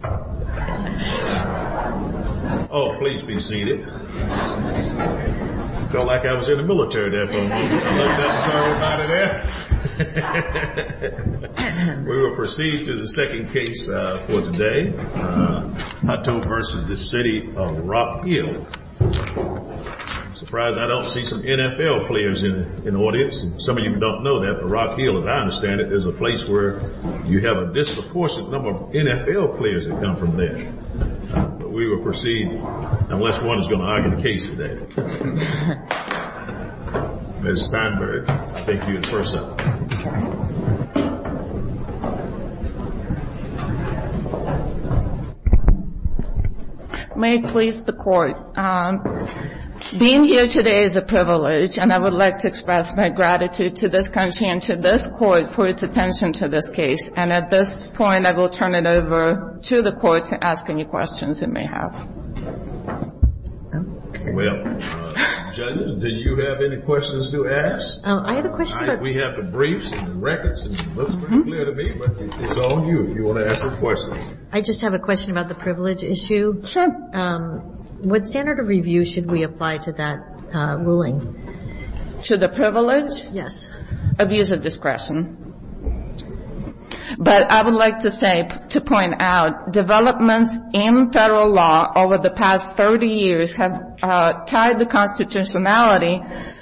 I'm surprised I don't see some NFL players in the audience. Some of you don't know that, but Rock Hill, as I understand it, is a place where you have a disproportionate number of NFL players. We will proceed unless one is going to argue the case today. Ms. Steinberg, I'll take you first up. May it please the Court. Being here today is a privilege, and I would like to express my gratitude to this country and to this Court for its attention to this case. And at this point, I will turn it over to the Court to ask any questions it may have. Well, judges, do you have any questions to ask? I have a question. We have the briefs and the records, and it looks pretty clear to me, but it's on you if you want to ask a question. I just have a question about the privilege issue. Sure. What standard of review should we apply to that ruling? To the privilege? Yes. Abuse of discretion. But I would like to say, to point out, developments in federal law over the past 30 years have tied the constitutionality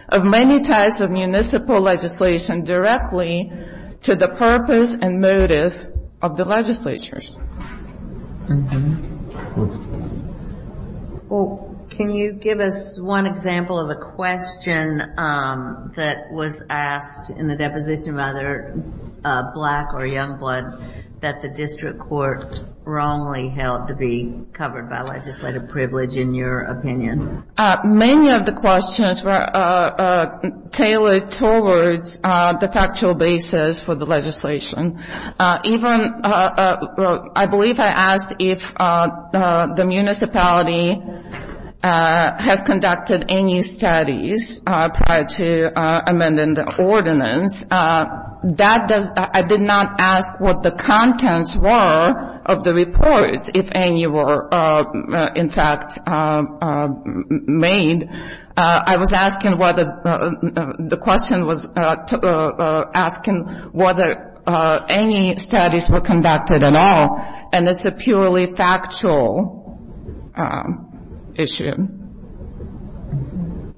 of many types of municipal legislation directly to the purpose and motive of the legislatures. Well, can you give us one example of a question that was asked in the deposition by either Black or Youngblood that the district court wrongly held to be covered by legislative privilege, in your opinion? Many of the questions were tailored towards the factual basis for the legislation. Even, I believe I asked if the municipality has conducted any studies prior to amending the ordinance. I did not ask what the contents were of the reports, if any were, in fact, made. I was asking whether, the question was asking whether any studies were conducted at all. And it's a purely factual issue.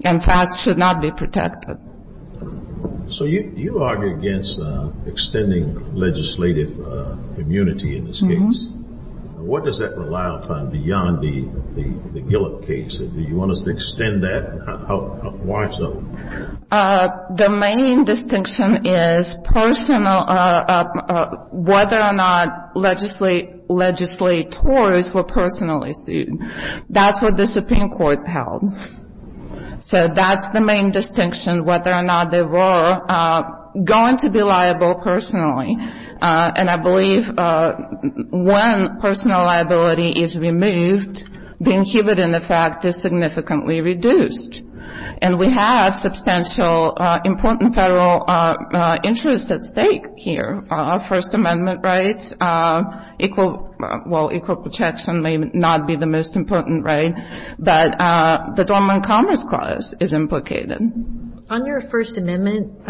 And facts should not be protected. So you argue against extending legislative immunity in this case. What does that rely upon beyond the Gillip case? Do you want us to extend that? Why so? The main distinction is personal, whether or not legislators were personally sued. That's what the Supreme Court held. So that's the main distinction, whether or not they were going to be liable personally. And I believe when personal liability is removed, the inhibitant effect is significantly reduced. And we have substantial important federal interests at stake here. First Amendment rights, equal protection may not be the most important right. But the Dormant Commerce Clause is implicated. On your First Amendment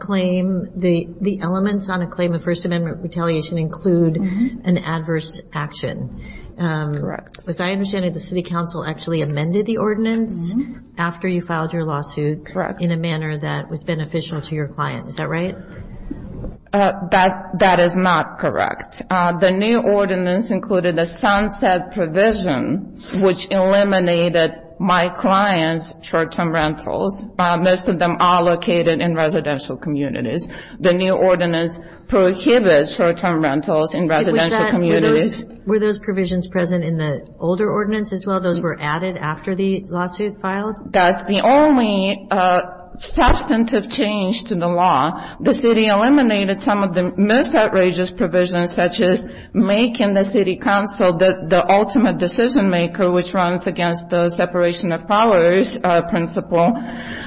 claim, the elements on a claim of First Amendment retaliation include an adverse action. Correct. As I understand it, the city council actually amended the ordinance after you filed your lawsuit. Correct. In a manner that was beneficial to your client. Is that right? That is not correct. The new ordinance included a sunset provision, which eliminated my client's short-term rentals, most of them allocated in residential communities. The new ordinance prohibits short-term rentals in residential communities. Were those provisions present in the older ordinance as well? Those were added after the lawsuit filed? That's the only substantive change to the law. The city eliminated some of the most outrageous provisions, such as making the city council the ultimate decision-maker, which runs against the separation of powers principle.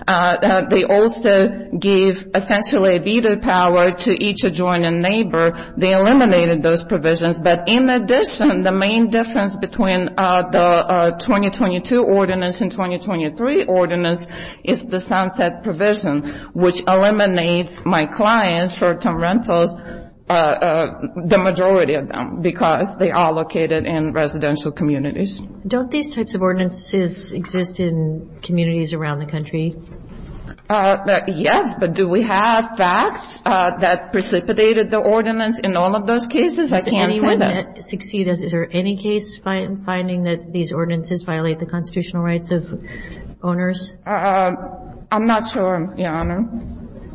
They also gave essentially veto power to each adjoining neighbor. They eliminated those provisions. But in addition, the main difference between the 2022 ordinance and the 2023 ordinance is the sunset provision, which eliminates my client's short-term rentals, the majority of them, because they are allocated in residential communities. Don't these types of ordinances exist in communities around the country? Yes, but do we have facts that precipitated the ordinance in all of those cases? I can't say that. Can anyone succeed us? Is there any case finding that these ordinances violate the constitutional rights of owners? I'm not sure, Your Honor.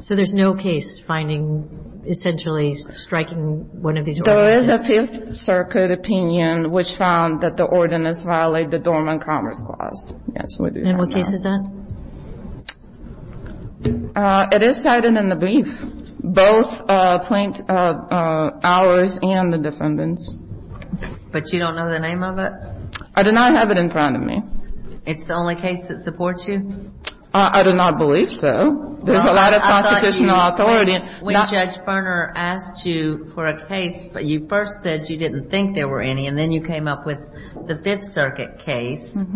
So there's no case finding essentially striking one of these ordinances? There is a Fifth Circuit opinion which found that the ordinance violated the Dormant Commerce Clause. Yes, we do have that. And what case is that? It is cited in the brief, both plaintiffs, ours and the defendant's. But you don't know the name of it? I do not have it in front of me. It's the only case that supports you? I do not believe so. There's a lot of constitutional authority. I thought you, when Judge Berner asked you for a case, you first said you didn't think there were any, and then you came up with the Fifth Circuit case.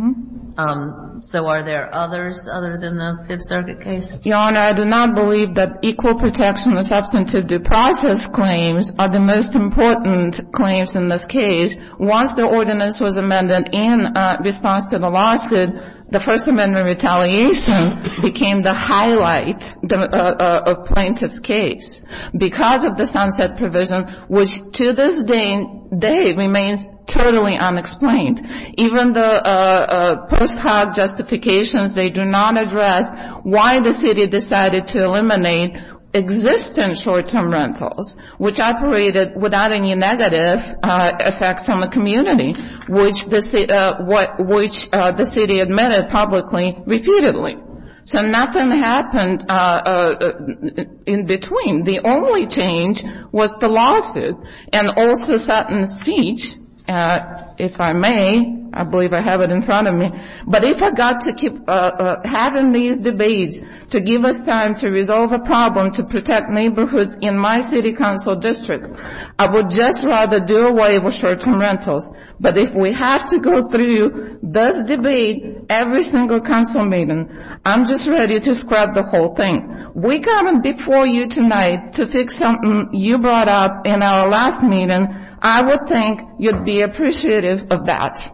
So are there others other than the Fifth Circuit case? Your Honor, I do not believe that equal protection and substantive due process claims are the most important claims in this case. Once the ordinance was amended in response to the lawsuit, the First Amendment retaliation became the highlight of plaintiff's case because of the sunset provision, which to this day remains totally unexplained. Even the post hoc justifications, they do not address why the city decided to eliminate existing short-term rentals, which operated without any negative effects on the community, which the city admitted publicly repeatedly. So nothing happened in between. The only change was the lawsuit. And also certain speech, if I may, I believe I have it in front of me. But if I got to keep having these debates to give us time to resolve a problem to protect neighborhoods in my city council district, I would just rather do away with short-term rentals. But if we have to go through this debate every single council meeting, I'm just ready to scrap the whole thing. We're coming before you tonight to fix something you brought up in our last meeting. I would think you'd be appreciative of that.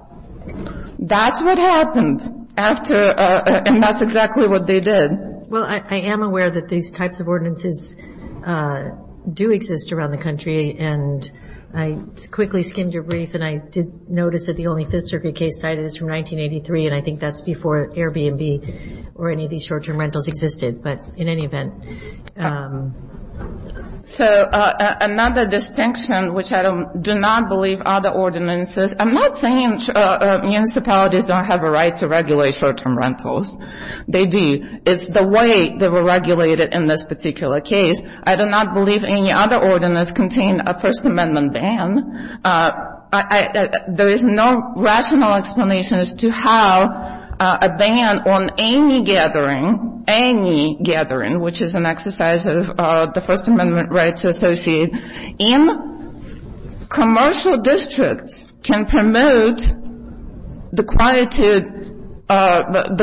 That's what happened after, and that's exactly what they did. Well, I am aware that these types of ordinances do exist around the country. And I quickly skimmed your brief, and I did notice that the only Fifth Circuit case cited is from 1983, and I think that's before Airbnb or any of these short-term rentals existed. But in any event. So another distinction, which I do not believe other ordinances. I'm not saying municipalities don't have a right to regulate short-term rentals. They do. It's the way they were regulated in this particular case. I do not believe any other ordinance contained a First Amendment ban. There is no rational explanation as to how a ban on any gathering, any gathering, which is an exercise of the First Amendment rights associated in commercial districts, can promote the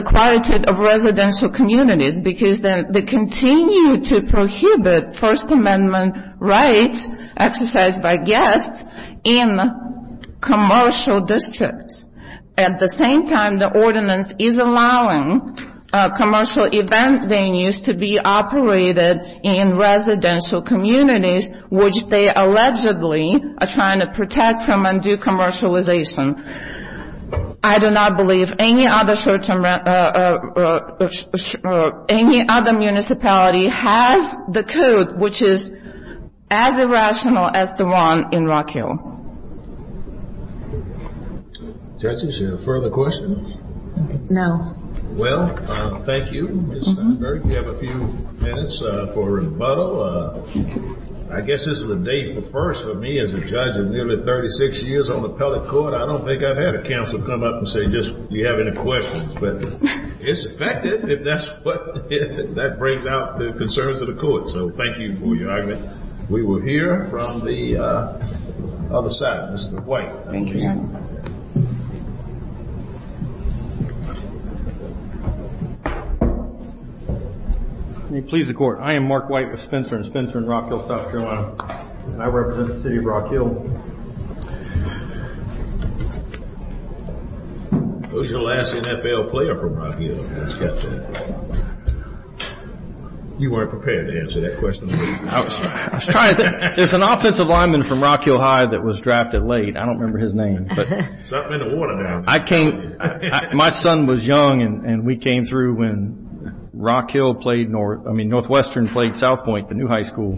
quality of residential communities, because then they continue to prohibit First Amendment rights exercised by guests. in commercial districts. At the same time, the ordinance is allowing commercial event venues to be operated in residential communities, which they allegedly are trying to protect from undue commercialization. I do not believe any other municipality has the code, which is as irrational as the one in Rock Hill. Judges, any further questions? No. Well, thank you, Ms. Steinberg. You have a few minutes for rebuttal. I guess this is a day for firsts for me as a judge of nearly 36 years on the appellate court. I don't think I've had a counselor come up and say, do you have any questions? But it's effective if that brings out the concerns of the court. So thank you for your argument. We will hear from the other side. Mr. White. Thank you. May it please the Court. I am Mark White with Spencer & Spencer in Rock Hill, South Carolina, and I represent the city of Rock Hill. Who's your last NFL player from Rock Hill? You weren't prepared to answer that question. I was trying to think. There's an offensive lineman from Rock Hill High that was drafted late. I don't remember his name. He's up in the water now. My son was young, and we came through when Rock Hill played North, I mean Northwestern played South Point, the new high school,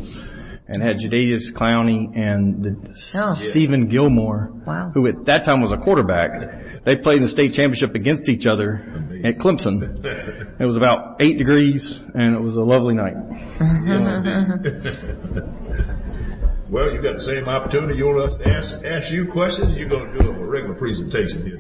and had Jadavius Clowney and Steven Gilmore, who at that time was a quarterback. They played in the state championship against each other at Clemson. It was about eight degrees, and it was a lovely night. Well, you've got the same opportunity. You want us to answer your questions, or are you going to do a regular presentation?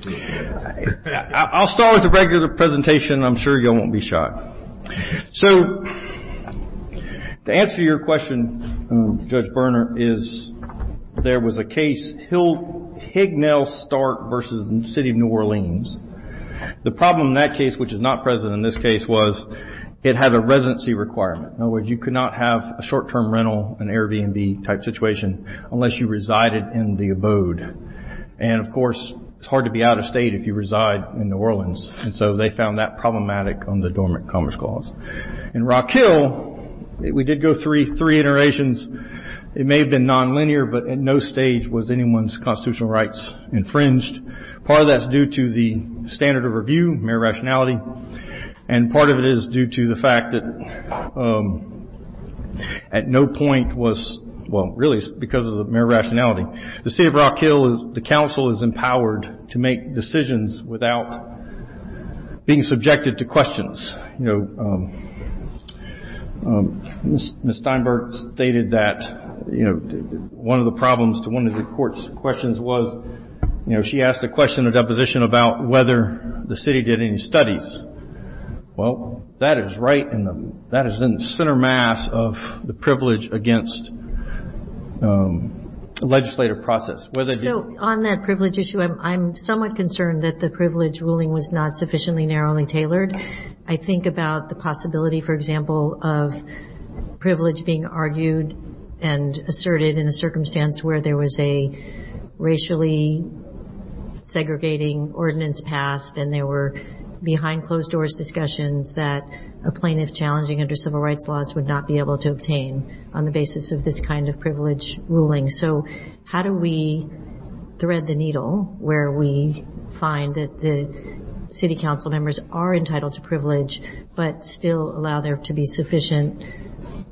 I'll start with a regular presentation. I'm sure you all won't be shocked. So to answer your question, Judge Berner, is there was a case, Hignell-Stark versus the city of New Orleans. The problem in that case, which is not present in this case, was it had a residency requirement. In other words, you could not have a short-term rental, an Airbnb-type situation, unless you resided in the abode. And, of course, it's hard to be out of state if you reside in New Orleans, and so they found that problematic under the Dormant Commerce Clause. In Rock Hill, we did go three iterations. It may have been nonlinear, but at no stage was anyone's constitutional rights infringed. Part of that's due to the standard of review, mere rationality, and part of it is due to the fact that at no point was, well, really because of the mere rationality. The city of Rock Hill, the council is empowered to make decisions without being subjected to questions. Ms. Steinberg stated that one of the problems to one of the court's questions was, you know, she asked a question in a deposition about whether the city did any studies. Well, that is right in the center mass of the privilege against legislative process. So on that privilege issue, I'm somewhat concerned that the privilege ruling was not sufficiently narrowly tailored. I think about the possibility, for example, of privilege being argued and asserted in a circumstance where there was a racially segregating ordinance passed and there were behind closed doors discussions that a plaintiff challenging under civil rights laws would not be able to obtain on the basis of this kind of privilege ruling. So how do we thread the needle where we find that the city council members are entitled to privilege but still allow there to be sufficient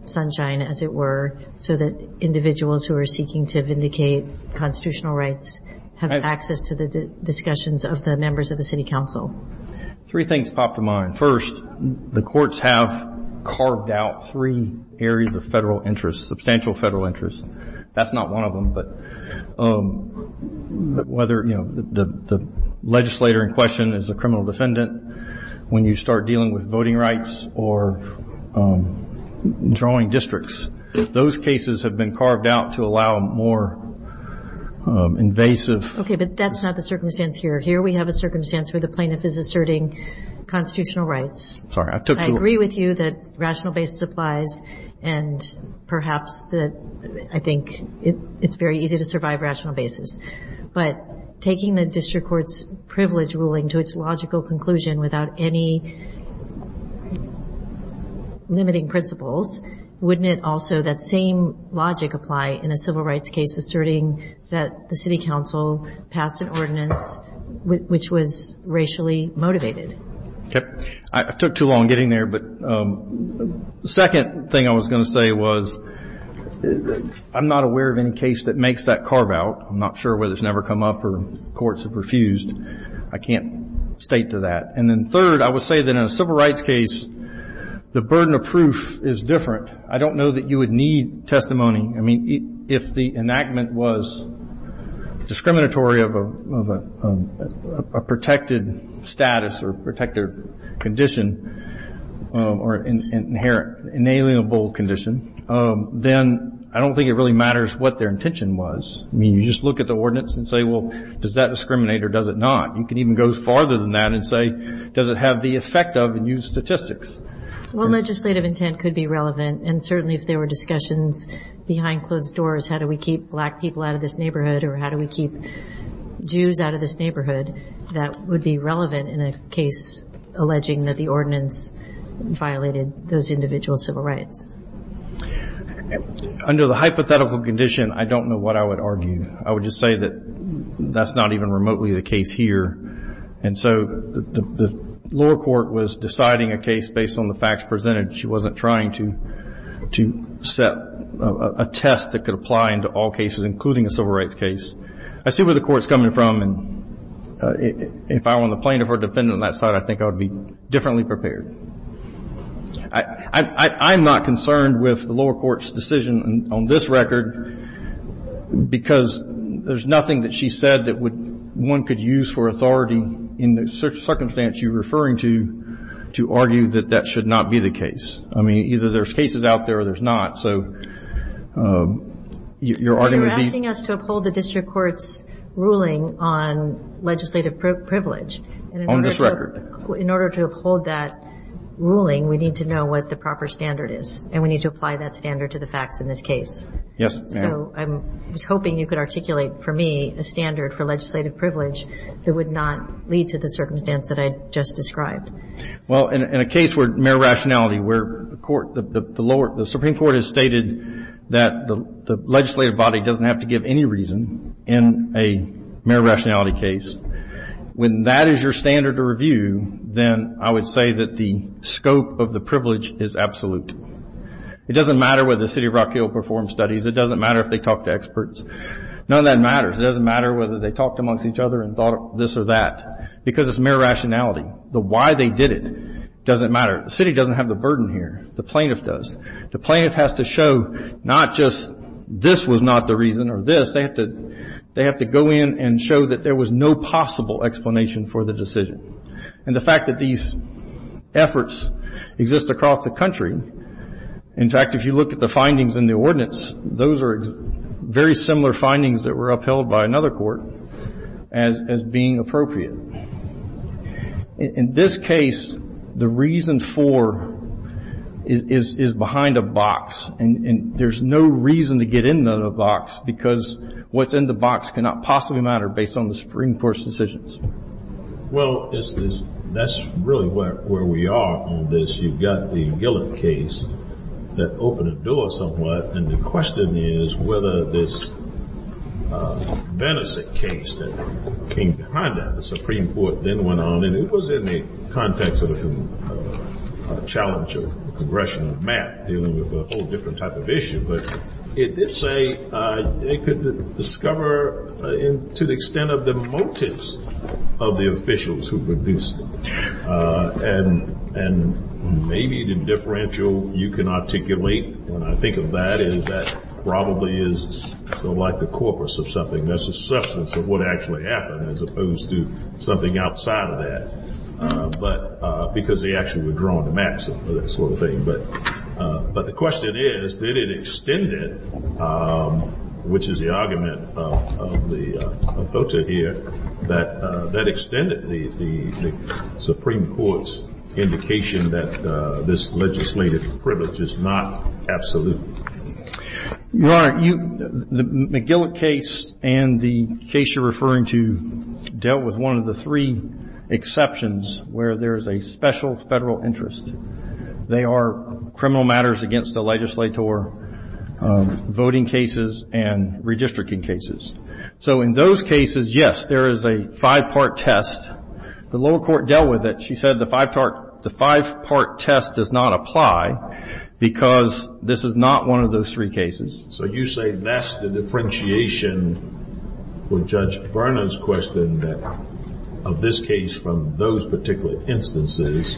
sunshine, as it were, so that individuals who are seeking to vindicate constitutional rights have access to the discussions of the members of the city council? Three things pop to mind. First, the courts have carved out three areas of federal interest, substantial federal interest. That's not one of them, but whether, you know, the legislator in question is a criminal defendant, when you start dealing with voting rights or drawing districts, those cases have been carved out to allow more invasive. Okay, but that's not the circumstance here. Here we have a circumstance where the plaintiff is asserting constitutional rights. Sorry, I took too long. I agree with you that rational basis applies, and perhaps that I think it's very easy to survive rational basis. But taking the district court's privilege ruling to its logical conclusion without any limiting principles, wouldn't it also that same logic apply in a civil rights case asserting that the city council passed an ordinance which was racially motivated? Okay, I took too long getting there. But the second thing I was going to say was I'm not aware of any case that makes that carve out. I'm not sure whether it's never come up or courts have refused. I can't state to that. And then third, I would say that in a civil rights case, the burden of proof is different. I don't know that you would need testimony. I mean, if the enactment was discriminatory of a protected status or protected condition or inalienable condition, then I don't think it really matters what their intention was. I mean, you just look at the ordinance and say, well, does that discriminate or does it not? You can even go farther than that and say, does it have the effect of, and use statistics. Well, legislative intent could be relevant, and certainly if there were discussions behind closed doors, how do we keep black people out of this neighborhood or how do we keep Jews out of this neighborhood, that would be relevant in a case alleging that the ordinance violated those individual civil rights. Under the hypothetical condition, I don't know what I would argue. I would just say that that's not even remotely the case here. And so the lower court was deciding a case based on the facts presented. She wasn't trying to set a test that could apply into all cases, including a civil rights case. I see where the court's coming from, and if I were on the plaintiff or defendant on that side, I think I would be differently prepared. I'm not concerned with the lower court's decision on this record, because there's nothing that she said that one could use for authority in the circumstance you're referring to, to argue that that should not be the case. I mean, either there's cases out there or there's not, so your argument would be. You're asking us to uphold the district court's ruling on legislative privilege. On this record. In order to uphold that ruling, we need to know what the proper standard is, and we need to apply that standard to the facts in this case. Yes, ma'am. So I was hoping you could articulate for me a standard for legislative privilege that would not lead to the circumstance that I just described. Well, in a case where mere rationality, where the Supreme Court has stated that the legislative body doesn't have to give any reason in a mere rationality case, when that is your standard to review, then I would say that the scope of the privilege is absolute. It doesn't matter whether the City of Rock Hill performs studies. It doesn't matter if they talk to experts. None of that matters. It doesn't matter whether they talked amongst each other and thought this or that, because it's mere rationality. The why they did it doesn't matter. The city doesn't have the burden here. The plaintiff does. The plaintiff has to show not just this was not the reason or this. They have to go in and show that there was no possible explanation for the decision. And the fact that these efforts exist across the country, in fact, if you look at the findings in the ordinance, those are very similar findings that were upheld by another court as being appropriate. In this case, the reason for is behind a box, and there's no reason to get into the box, because what's in the box cannot possibly matter based on the Supreme Court's decisions. Well, that's really where we are on this. You've got the Gillett case that opened the door somewhat, and the question is whether this Benesik case that came behind that, the Supreme Court then went on, and it was in the context of a challenge of the congressional map, dealing with a whole different type of issue, but it did say they could discover to the extent of the motives of the officials who produced it. And maybe the differential you can articulate when I think of that is that probably is sort of like the corpus of something. There's a substance of what actually happened as opposed to something outside of that, because they actually were drawn to maps and that sort of thing. But the question is, did it extend it, which is the argument of the voter here, that that extended the Supreme Court's indication that this legislative privilege is not absolute? Your Honor, the Gillett case and the case you're referring to dealt with one of the three exceptions where there is a special federal interest. They are criminal matters against the legislature, voting cases, and redistricting cases. So in those cases, yes, there is a five-part test. The lower court dealt with it. She said the five-part test does not apply because this is not one of those three cases. So you say that's the differentiation with Judge Berner's question, that of this case from those particular instances,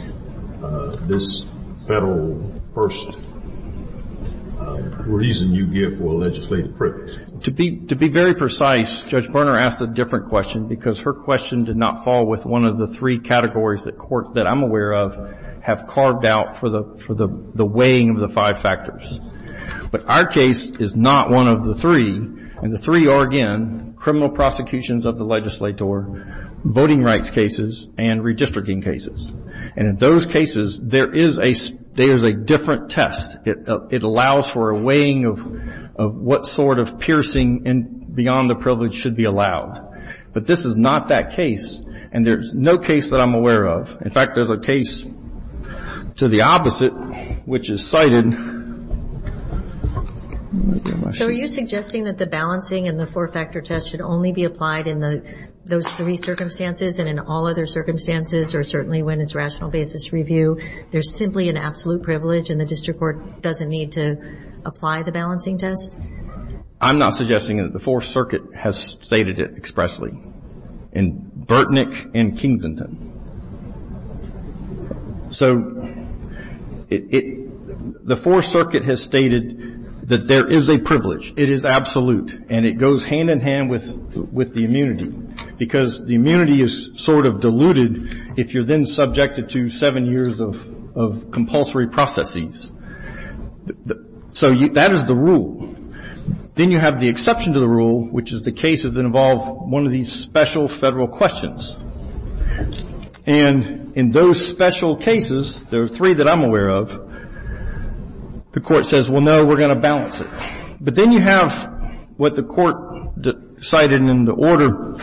this federal first reason you give for legislative privilege. To be very precise, Judge Berner asked a different question because her question did not fall with one of the three categories that I'm aware of, have carved out for the weighing of the five factors. But our case is not one of the three, and the three are, again, criminal prosecutions of the legislature, voting rights cases, and redistricting cases. And in those cases, there is a different test. It allows for a weighing of what sort of piercing beyond the privilege should be allowed. But this is not that case, and there's no case that I'm aware of. In fact, there's a case to the opposite, which is cited. Let me see my sheet. So are you suggesting that the balancing and the four-factor test should only be applied in those three circumstances and in all other circumstances, or certainly when it's rational basis review? There's simply an absolute privilege, and the district court doesn't need to apply the balancing test? I'm not suggesting it. The Fourth Circuit has stated it expressly in Burtnick and Kingsington. So the Fourth Circuit has stated that there is a privilege. It is absolute, and it goes hand-in-hand with the immunity because the immunity is sort of diluted if you're then subjected to seven years of compulsory processes. So that is the rule. Then you have the exception to the rule, which is the cases that involve one of these special Federal questions. And in those special cases, there are three that I'm aware of, the Court says, well, no, we're going to balance it. But then you have what the Court cited in the order.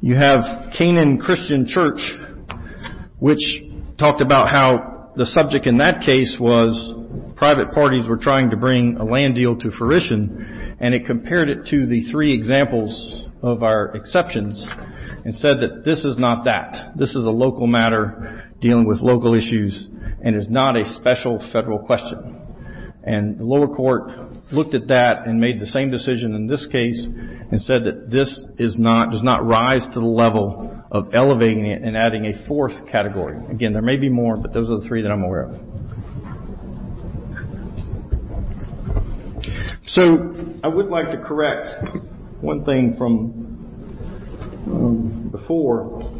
You have Canaan Christian Church, which talked about how the subject in that case was private parties were trying to bring a land deal to fruition, and it compared it to the three examples of our exceptions and said that this is not that. This is a local matter dealing with local issues and is not a special Federal question. And the lower court looked at that and made the same decision in this case and said that this does not rise to the level of elevating it and adding a fourth category. Again, there may be more, but those are the three that I'm aware of. So I would like to correct one thing from before.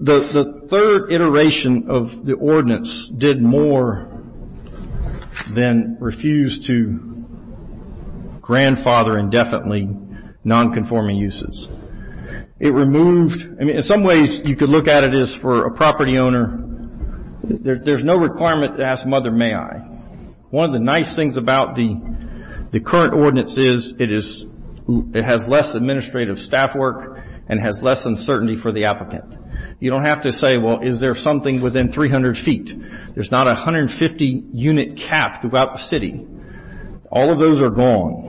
The third iteration of the ordinance did more than refuse to grandfather indefinitely nonconforming uses. It removed, I mean, in some ways you could look at it as for a property owner, there's no requirement to ask mother may I. One of the nice things about the current ordinance is it has less administrative staff work and has less uncertainty for the applicant. You don't have to say, well, is there something within 300 feet? There's not a 150-unit cap throughout the city. All of those are gone.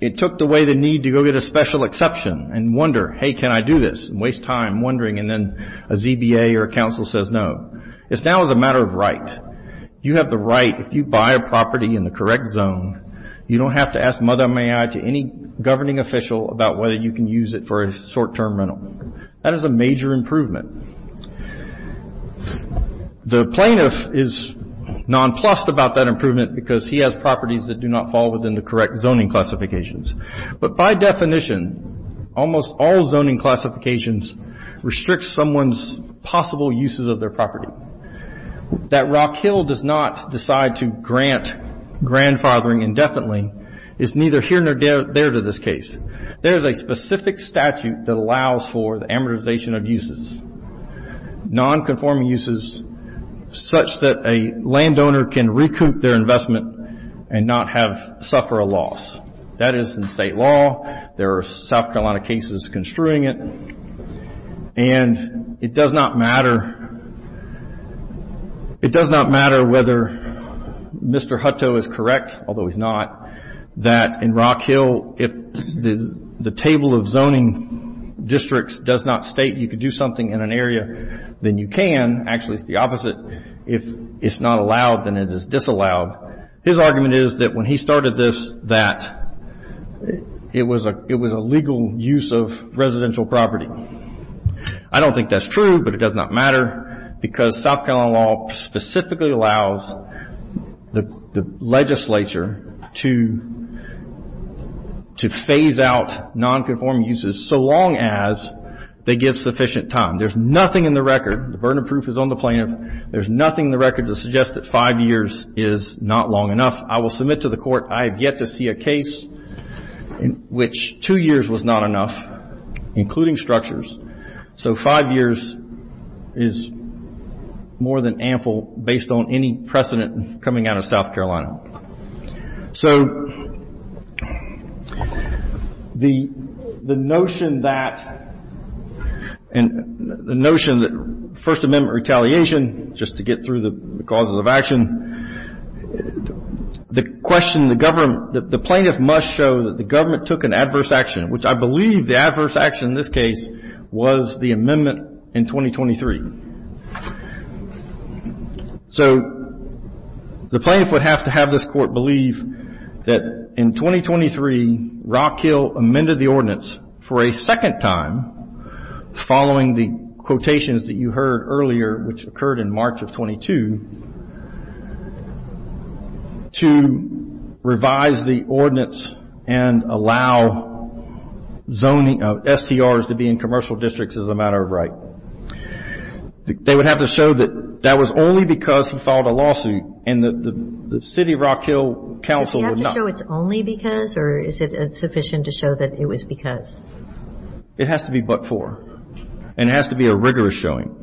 It took away the need to go get a special exception and wonder, hey, can I do this, and waste time wondering, and then a ZBA or a council says no. It's now a matter of right. You have the right. If you buy a property in the correct zone, you don't have to ask mother may I to any governing official about whether you can use it for a short-term rental. That is a major improvement. The plaintiff is nonplussed about that improvement because he has properties that do not fall within the correct zoning classifications. But by definition, almost all zoning classifications restrict someone's possible uses of their property. That Rock Hill does not decide to grant grandfathering indefinitely is neither here nor there to this case. There is a specific statute that allows for the amortization of uses, nonconforming uses such that a landowner can recoup their investment and not suffer a loss. That is in state law. There are South Carolina cases construing it. It does not matter whether Mr. Hutto is correct, although he's not, that in Rock Hill if the table of zoning districts does not state you can do something in an area, then you can. Actually, it's the opposite. If it's not allowed, then it is disallowed. His argument is that when he started this that it was a legal use of residential property. I don't think that's true, but it does not matter because South Carolina law specifically allows the legislature to phase out nonconforming uses so long as they give sufficient time. There's nothing in the record. The burden of proof is on the plaintiff. There's nothing in the record to suggest that five years is not long enough. I will submit to the court I have yet to see a case in which two years was not enough, including structures. So five years is more than ample based on any precedent coming out of South Carolina. So the notion that First Amendment retaliation, just to get through the causes of action, the question the government, the plaintiff must show that the government took an adverse action, which I believe the adverse action in this case was the amendment in 2023. So the plaintiff would have to have this court believe that in 2023, Rock Hill amended the ordinance for a second time following the quotations that you heard earlier, which occurred in March of 22, to revise the ordinance and allow STRs to be in commercial districts as a matter of right. They would have to show that that was only because he filed a lawsuit and that the city of Rock Hill counsel would not. Does he have to show it's only because, or is it sufficient to show that it was because? It has to be but for, and it has to be a rigorous showing.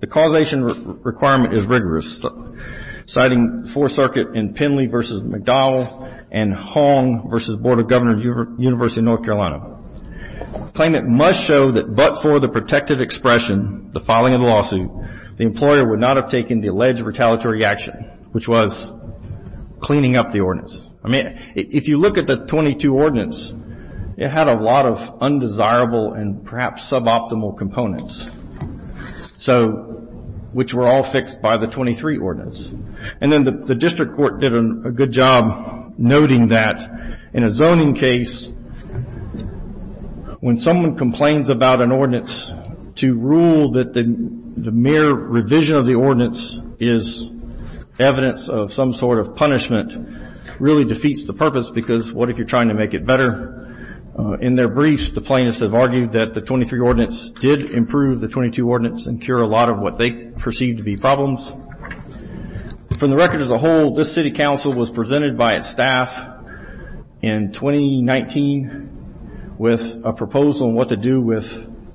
The causation requirement is rigorous, citing Fourth Circuit in Penley v. McDowell and Hong v. Board of Governors, University of North Carolina. Claimant must show that but for the protective expression, the filing of the lawsuit, the employer would not have taken the alleged retaliatory action, which was cleaning up the ordinance. I mean, if you look at the 22 ordinance, it had a lot of undesirable and perhaps suboptimal components. So, which were all fixed by the 23 ordinance. And then the district court did a good job noting that in a zoning case, when someone complains about an ordinance to rule that the mere revision of the ordinance is evidence of some sort of punishment, really defeats the purpose because what if you're trying to make it better? In their briefs, the plaintiffs have argued that the 23 ordinance did improve the 22 ordinance and cure a lot of what they perceive to be problems. From the record as a whole, this city council was presented by its staff in 2019 with a proposal on what to do with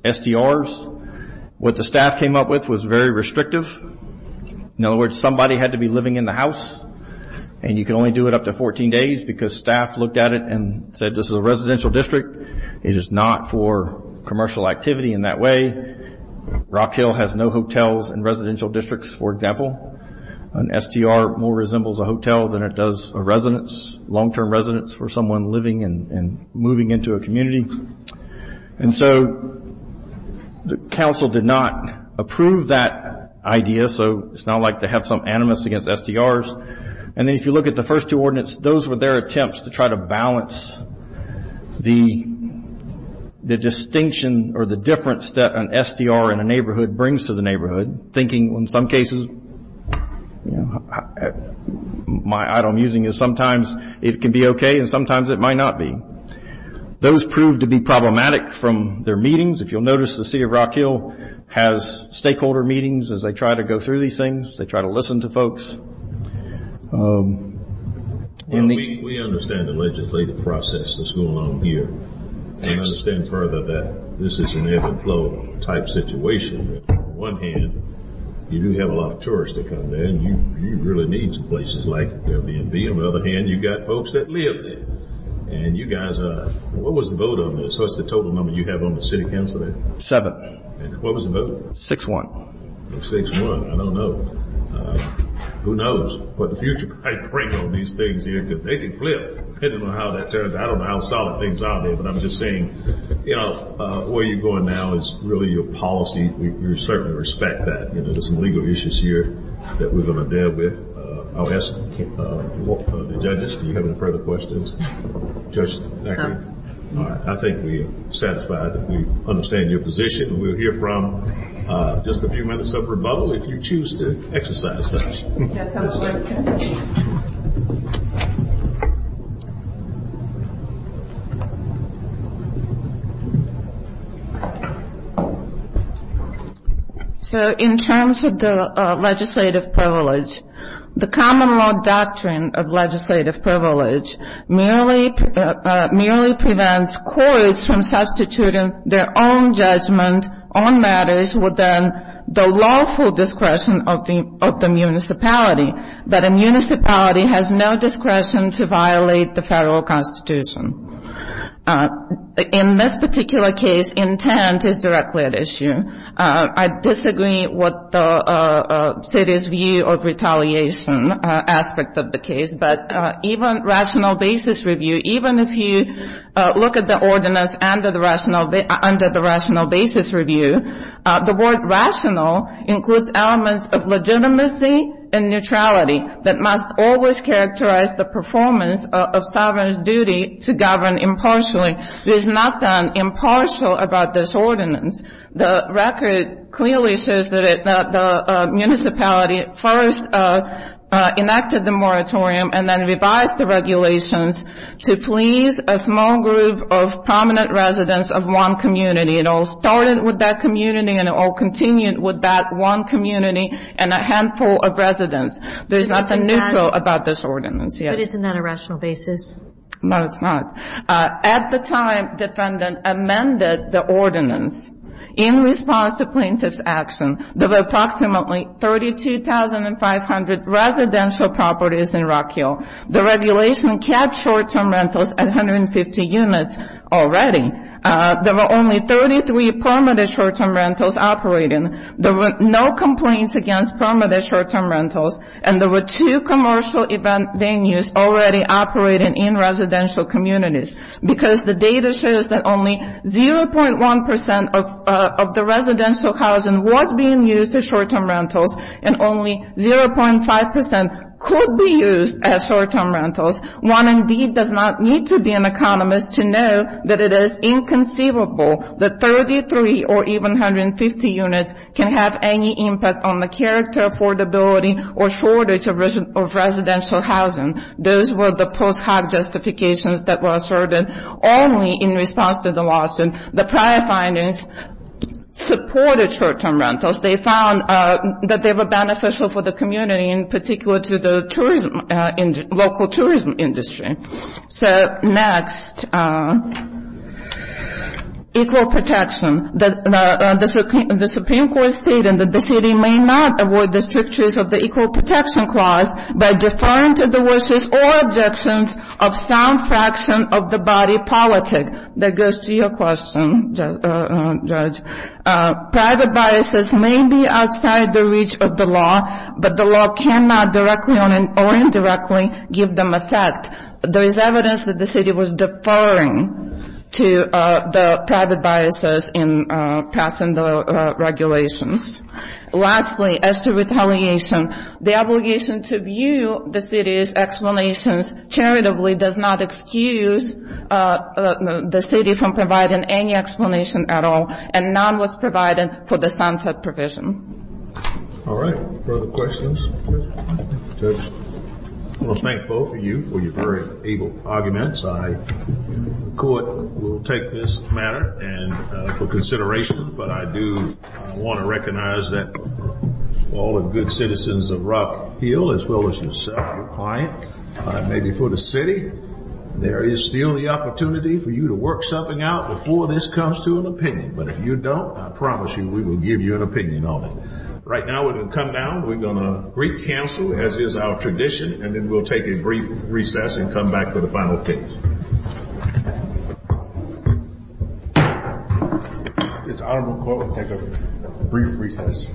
STRs. What the staff came up with was very restrictive. In other words, somebody had to be living in the house and you can only do it up to 14 days because staff looked at it and said this is a residential district. It is not for commercial activity in that way. Rock Hill has no hotels in residential districts, for example. An STR more resembles a hotel than it does a residence, long-term residence for someone living and moving into a community. And so the council did not approve that idea, so it's not like they have some animus against STRs. And then if you look at the first two ordinance, those were their attempts to try to balance the distinction or the difference that an STR in a neighborhood brings to the neighborhood, thinking in some cases my item using is sometimes it can be okay and sometimes it might not be. Those proved to be problematic from their meetings. If you'll notice, the city of Rock Hill has stakeholder meetings as they try to go through these things. They try to listen to folks. We understand the legislative process that's going on here. We understand further that this is an ebb and flow type situation. On one hand, you do have a lot of tourists that come there, and you really need some places like WMB. On the other hand, you've got folks that live there. And you guys, what was the vote on this? What's the total number you have on the city council there? Seven. And what was the vote? Six-one. Six-one. I don't know. Who knows? But the future might break on these things here because they could flip, depending on how that turns out. I don't know how solid things are there, but I'm just saying, where you're going now is really your policy. We certainly respect that. There's some legal issues here that we're going to deal with. I'll ask the judges if you have any further questions. Judge? No. All right. I think we're satisfied that we understand your position. We'll hear from just a few minutes of rebuttal if you choose to exercise such. Yes, I will. So in terms of the legislative privilege, the common law doctrine of legislative privilege merely prevents courts from substituting their own judgment on matters within the lawful discretion of the municipality. But a municipality has no discretion to violate the federal constitution. In this particular case, intent is directly at issue. I disagree with the city's view of retaliation aspect of the case. But even rational basis review, even if you look at the ordinance under the rational basis review, the word rational includes elements of legitimacy and neutrality that must always characterize the performance of sovereign's duty to govern impartially. There's nothing impartial about this ordinance. The record clearly says that the municipality first enacted the moratorium and then revised the regulations to please a small group of prominent residents of one community. It all started with that community and it all continued with that one community and a handful of residents. There's nothing neutral about this ordinance, yes. But isn't that a rational basis? No, it's not. At the time, defendant amended the ordinance in response to plaintiff's action. There were approximately 32,500 residential properties in Rock Hill. The regulation kept short-term rentals at 150 units already. There were only 33 permanent short-term rentals operating. There were no complaints against permanent short-term rentals, and there were two commercial event venues already operating in residential communities because the data shows that only 0.1% of the residential housing was being used as short-term rentals and only 0.5% could be used as short-term rentals. One indeed does not need to be an economist to know that it is inconceivable that 33 or even 150 units can have any impact on the character, affordability, or shortage of residential housing. Those were the post hoc justifications that were asserted only in response to the lawsuit. The prior findings supported short-term rentals. They found that they were beneficial for the community, in particular to the tourism, local tourism industry. So next, equal protection. The Supreme Court stated that the city may not avoid the strict use of the equal protection clause by deferring to the wishes or objections of some fraction of the body politic. That goes to your question, Judge. Private biases may be outside the reach of the law, but the law cannot directly or indirectly give them effect. There is evidence that the city was deferring to the private biases in passing the regulations. Lastly, as to retaliation, the obligation to view the city's explanations charitably does not excuse the city from providing any explanation at all, and none was provided for the sunset provision. All right. Further questions? Judge? I want to thank both of you for your very able arguments. I, in court, will take this matter for consideration, but I do want to recognize that all the good citizens of Rock Hill, as well as yourself, your client, maybe for the city, there is still the opportunity for you to work something out before this comes to an opinion. But if you don't, I promise you we will give you an opinion on it. Right now, we're going to come down, we're going to recancel, as is our tradition, and then we'll take a brief recess and come back for the final case. This Honorable Court will take a brief recess.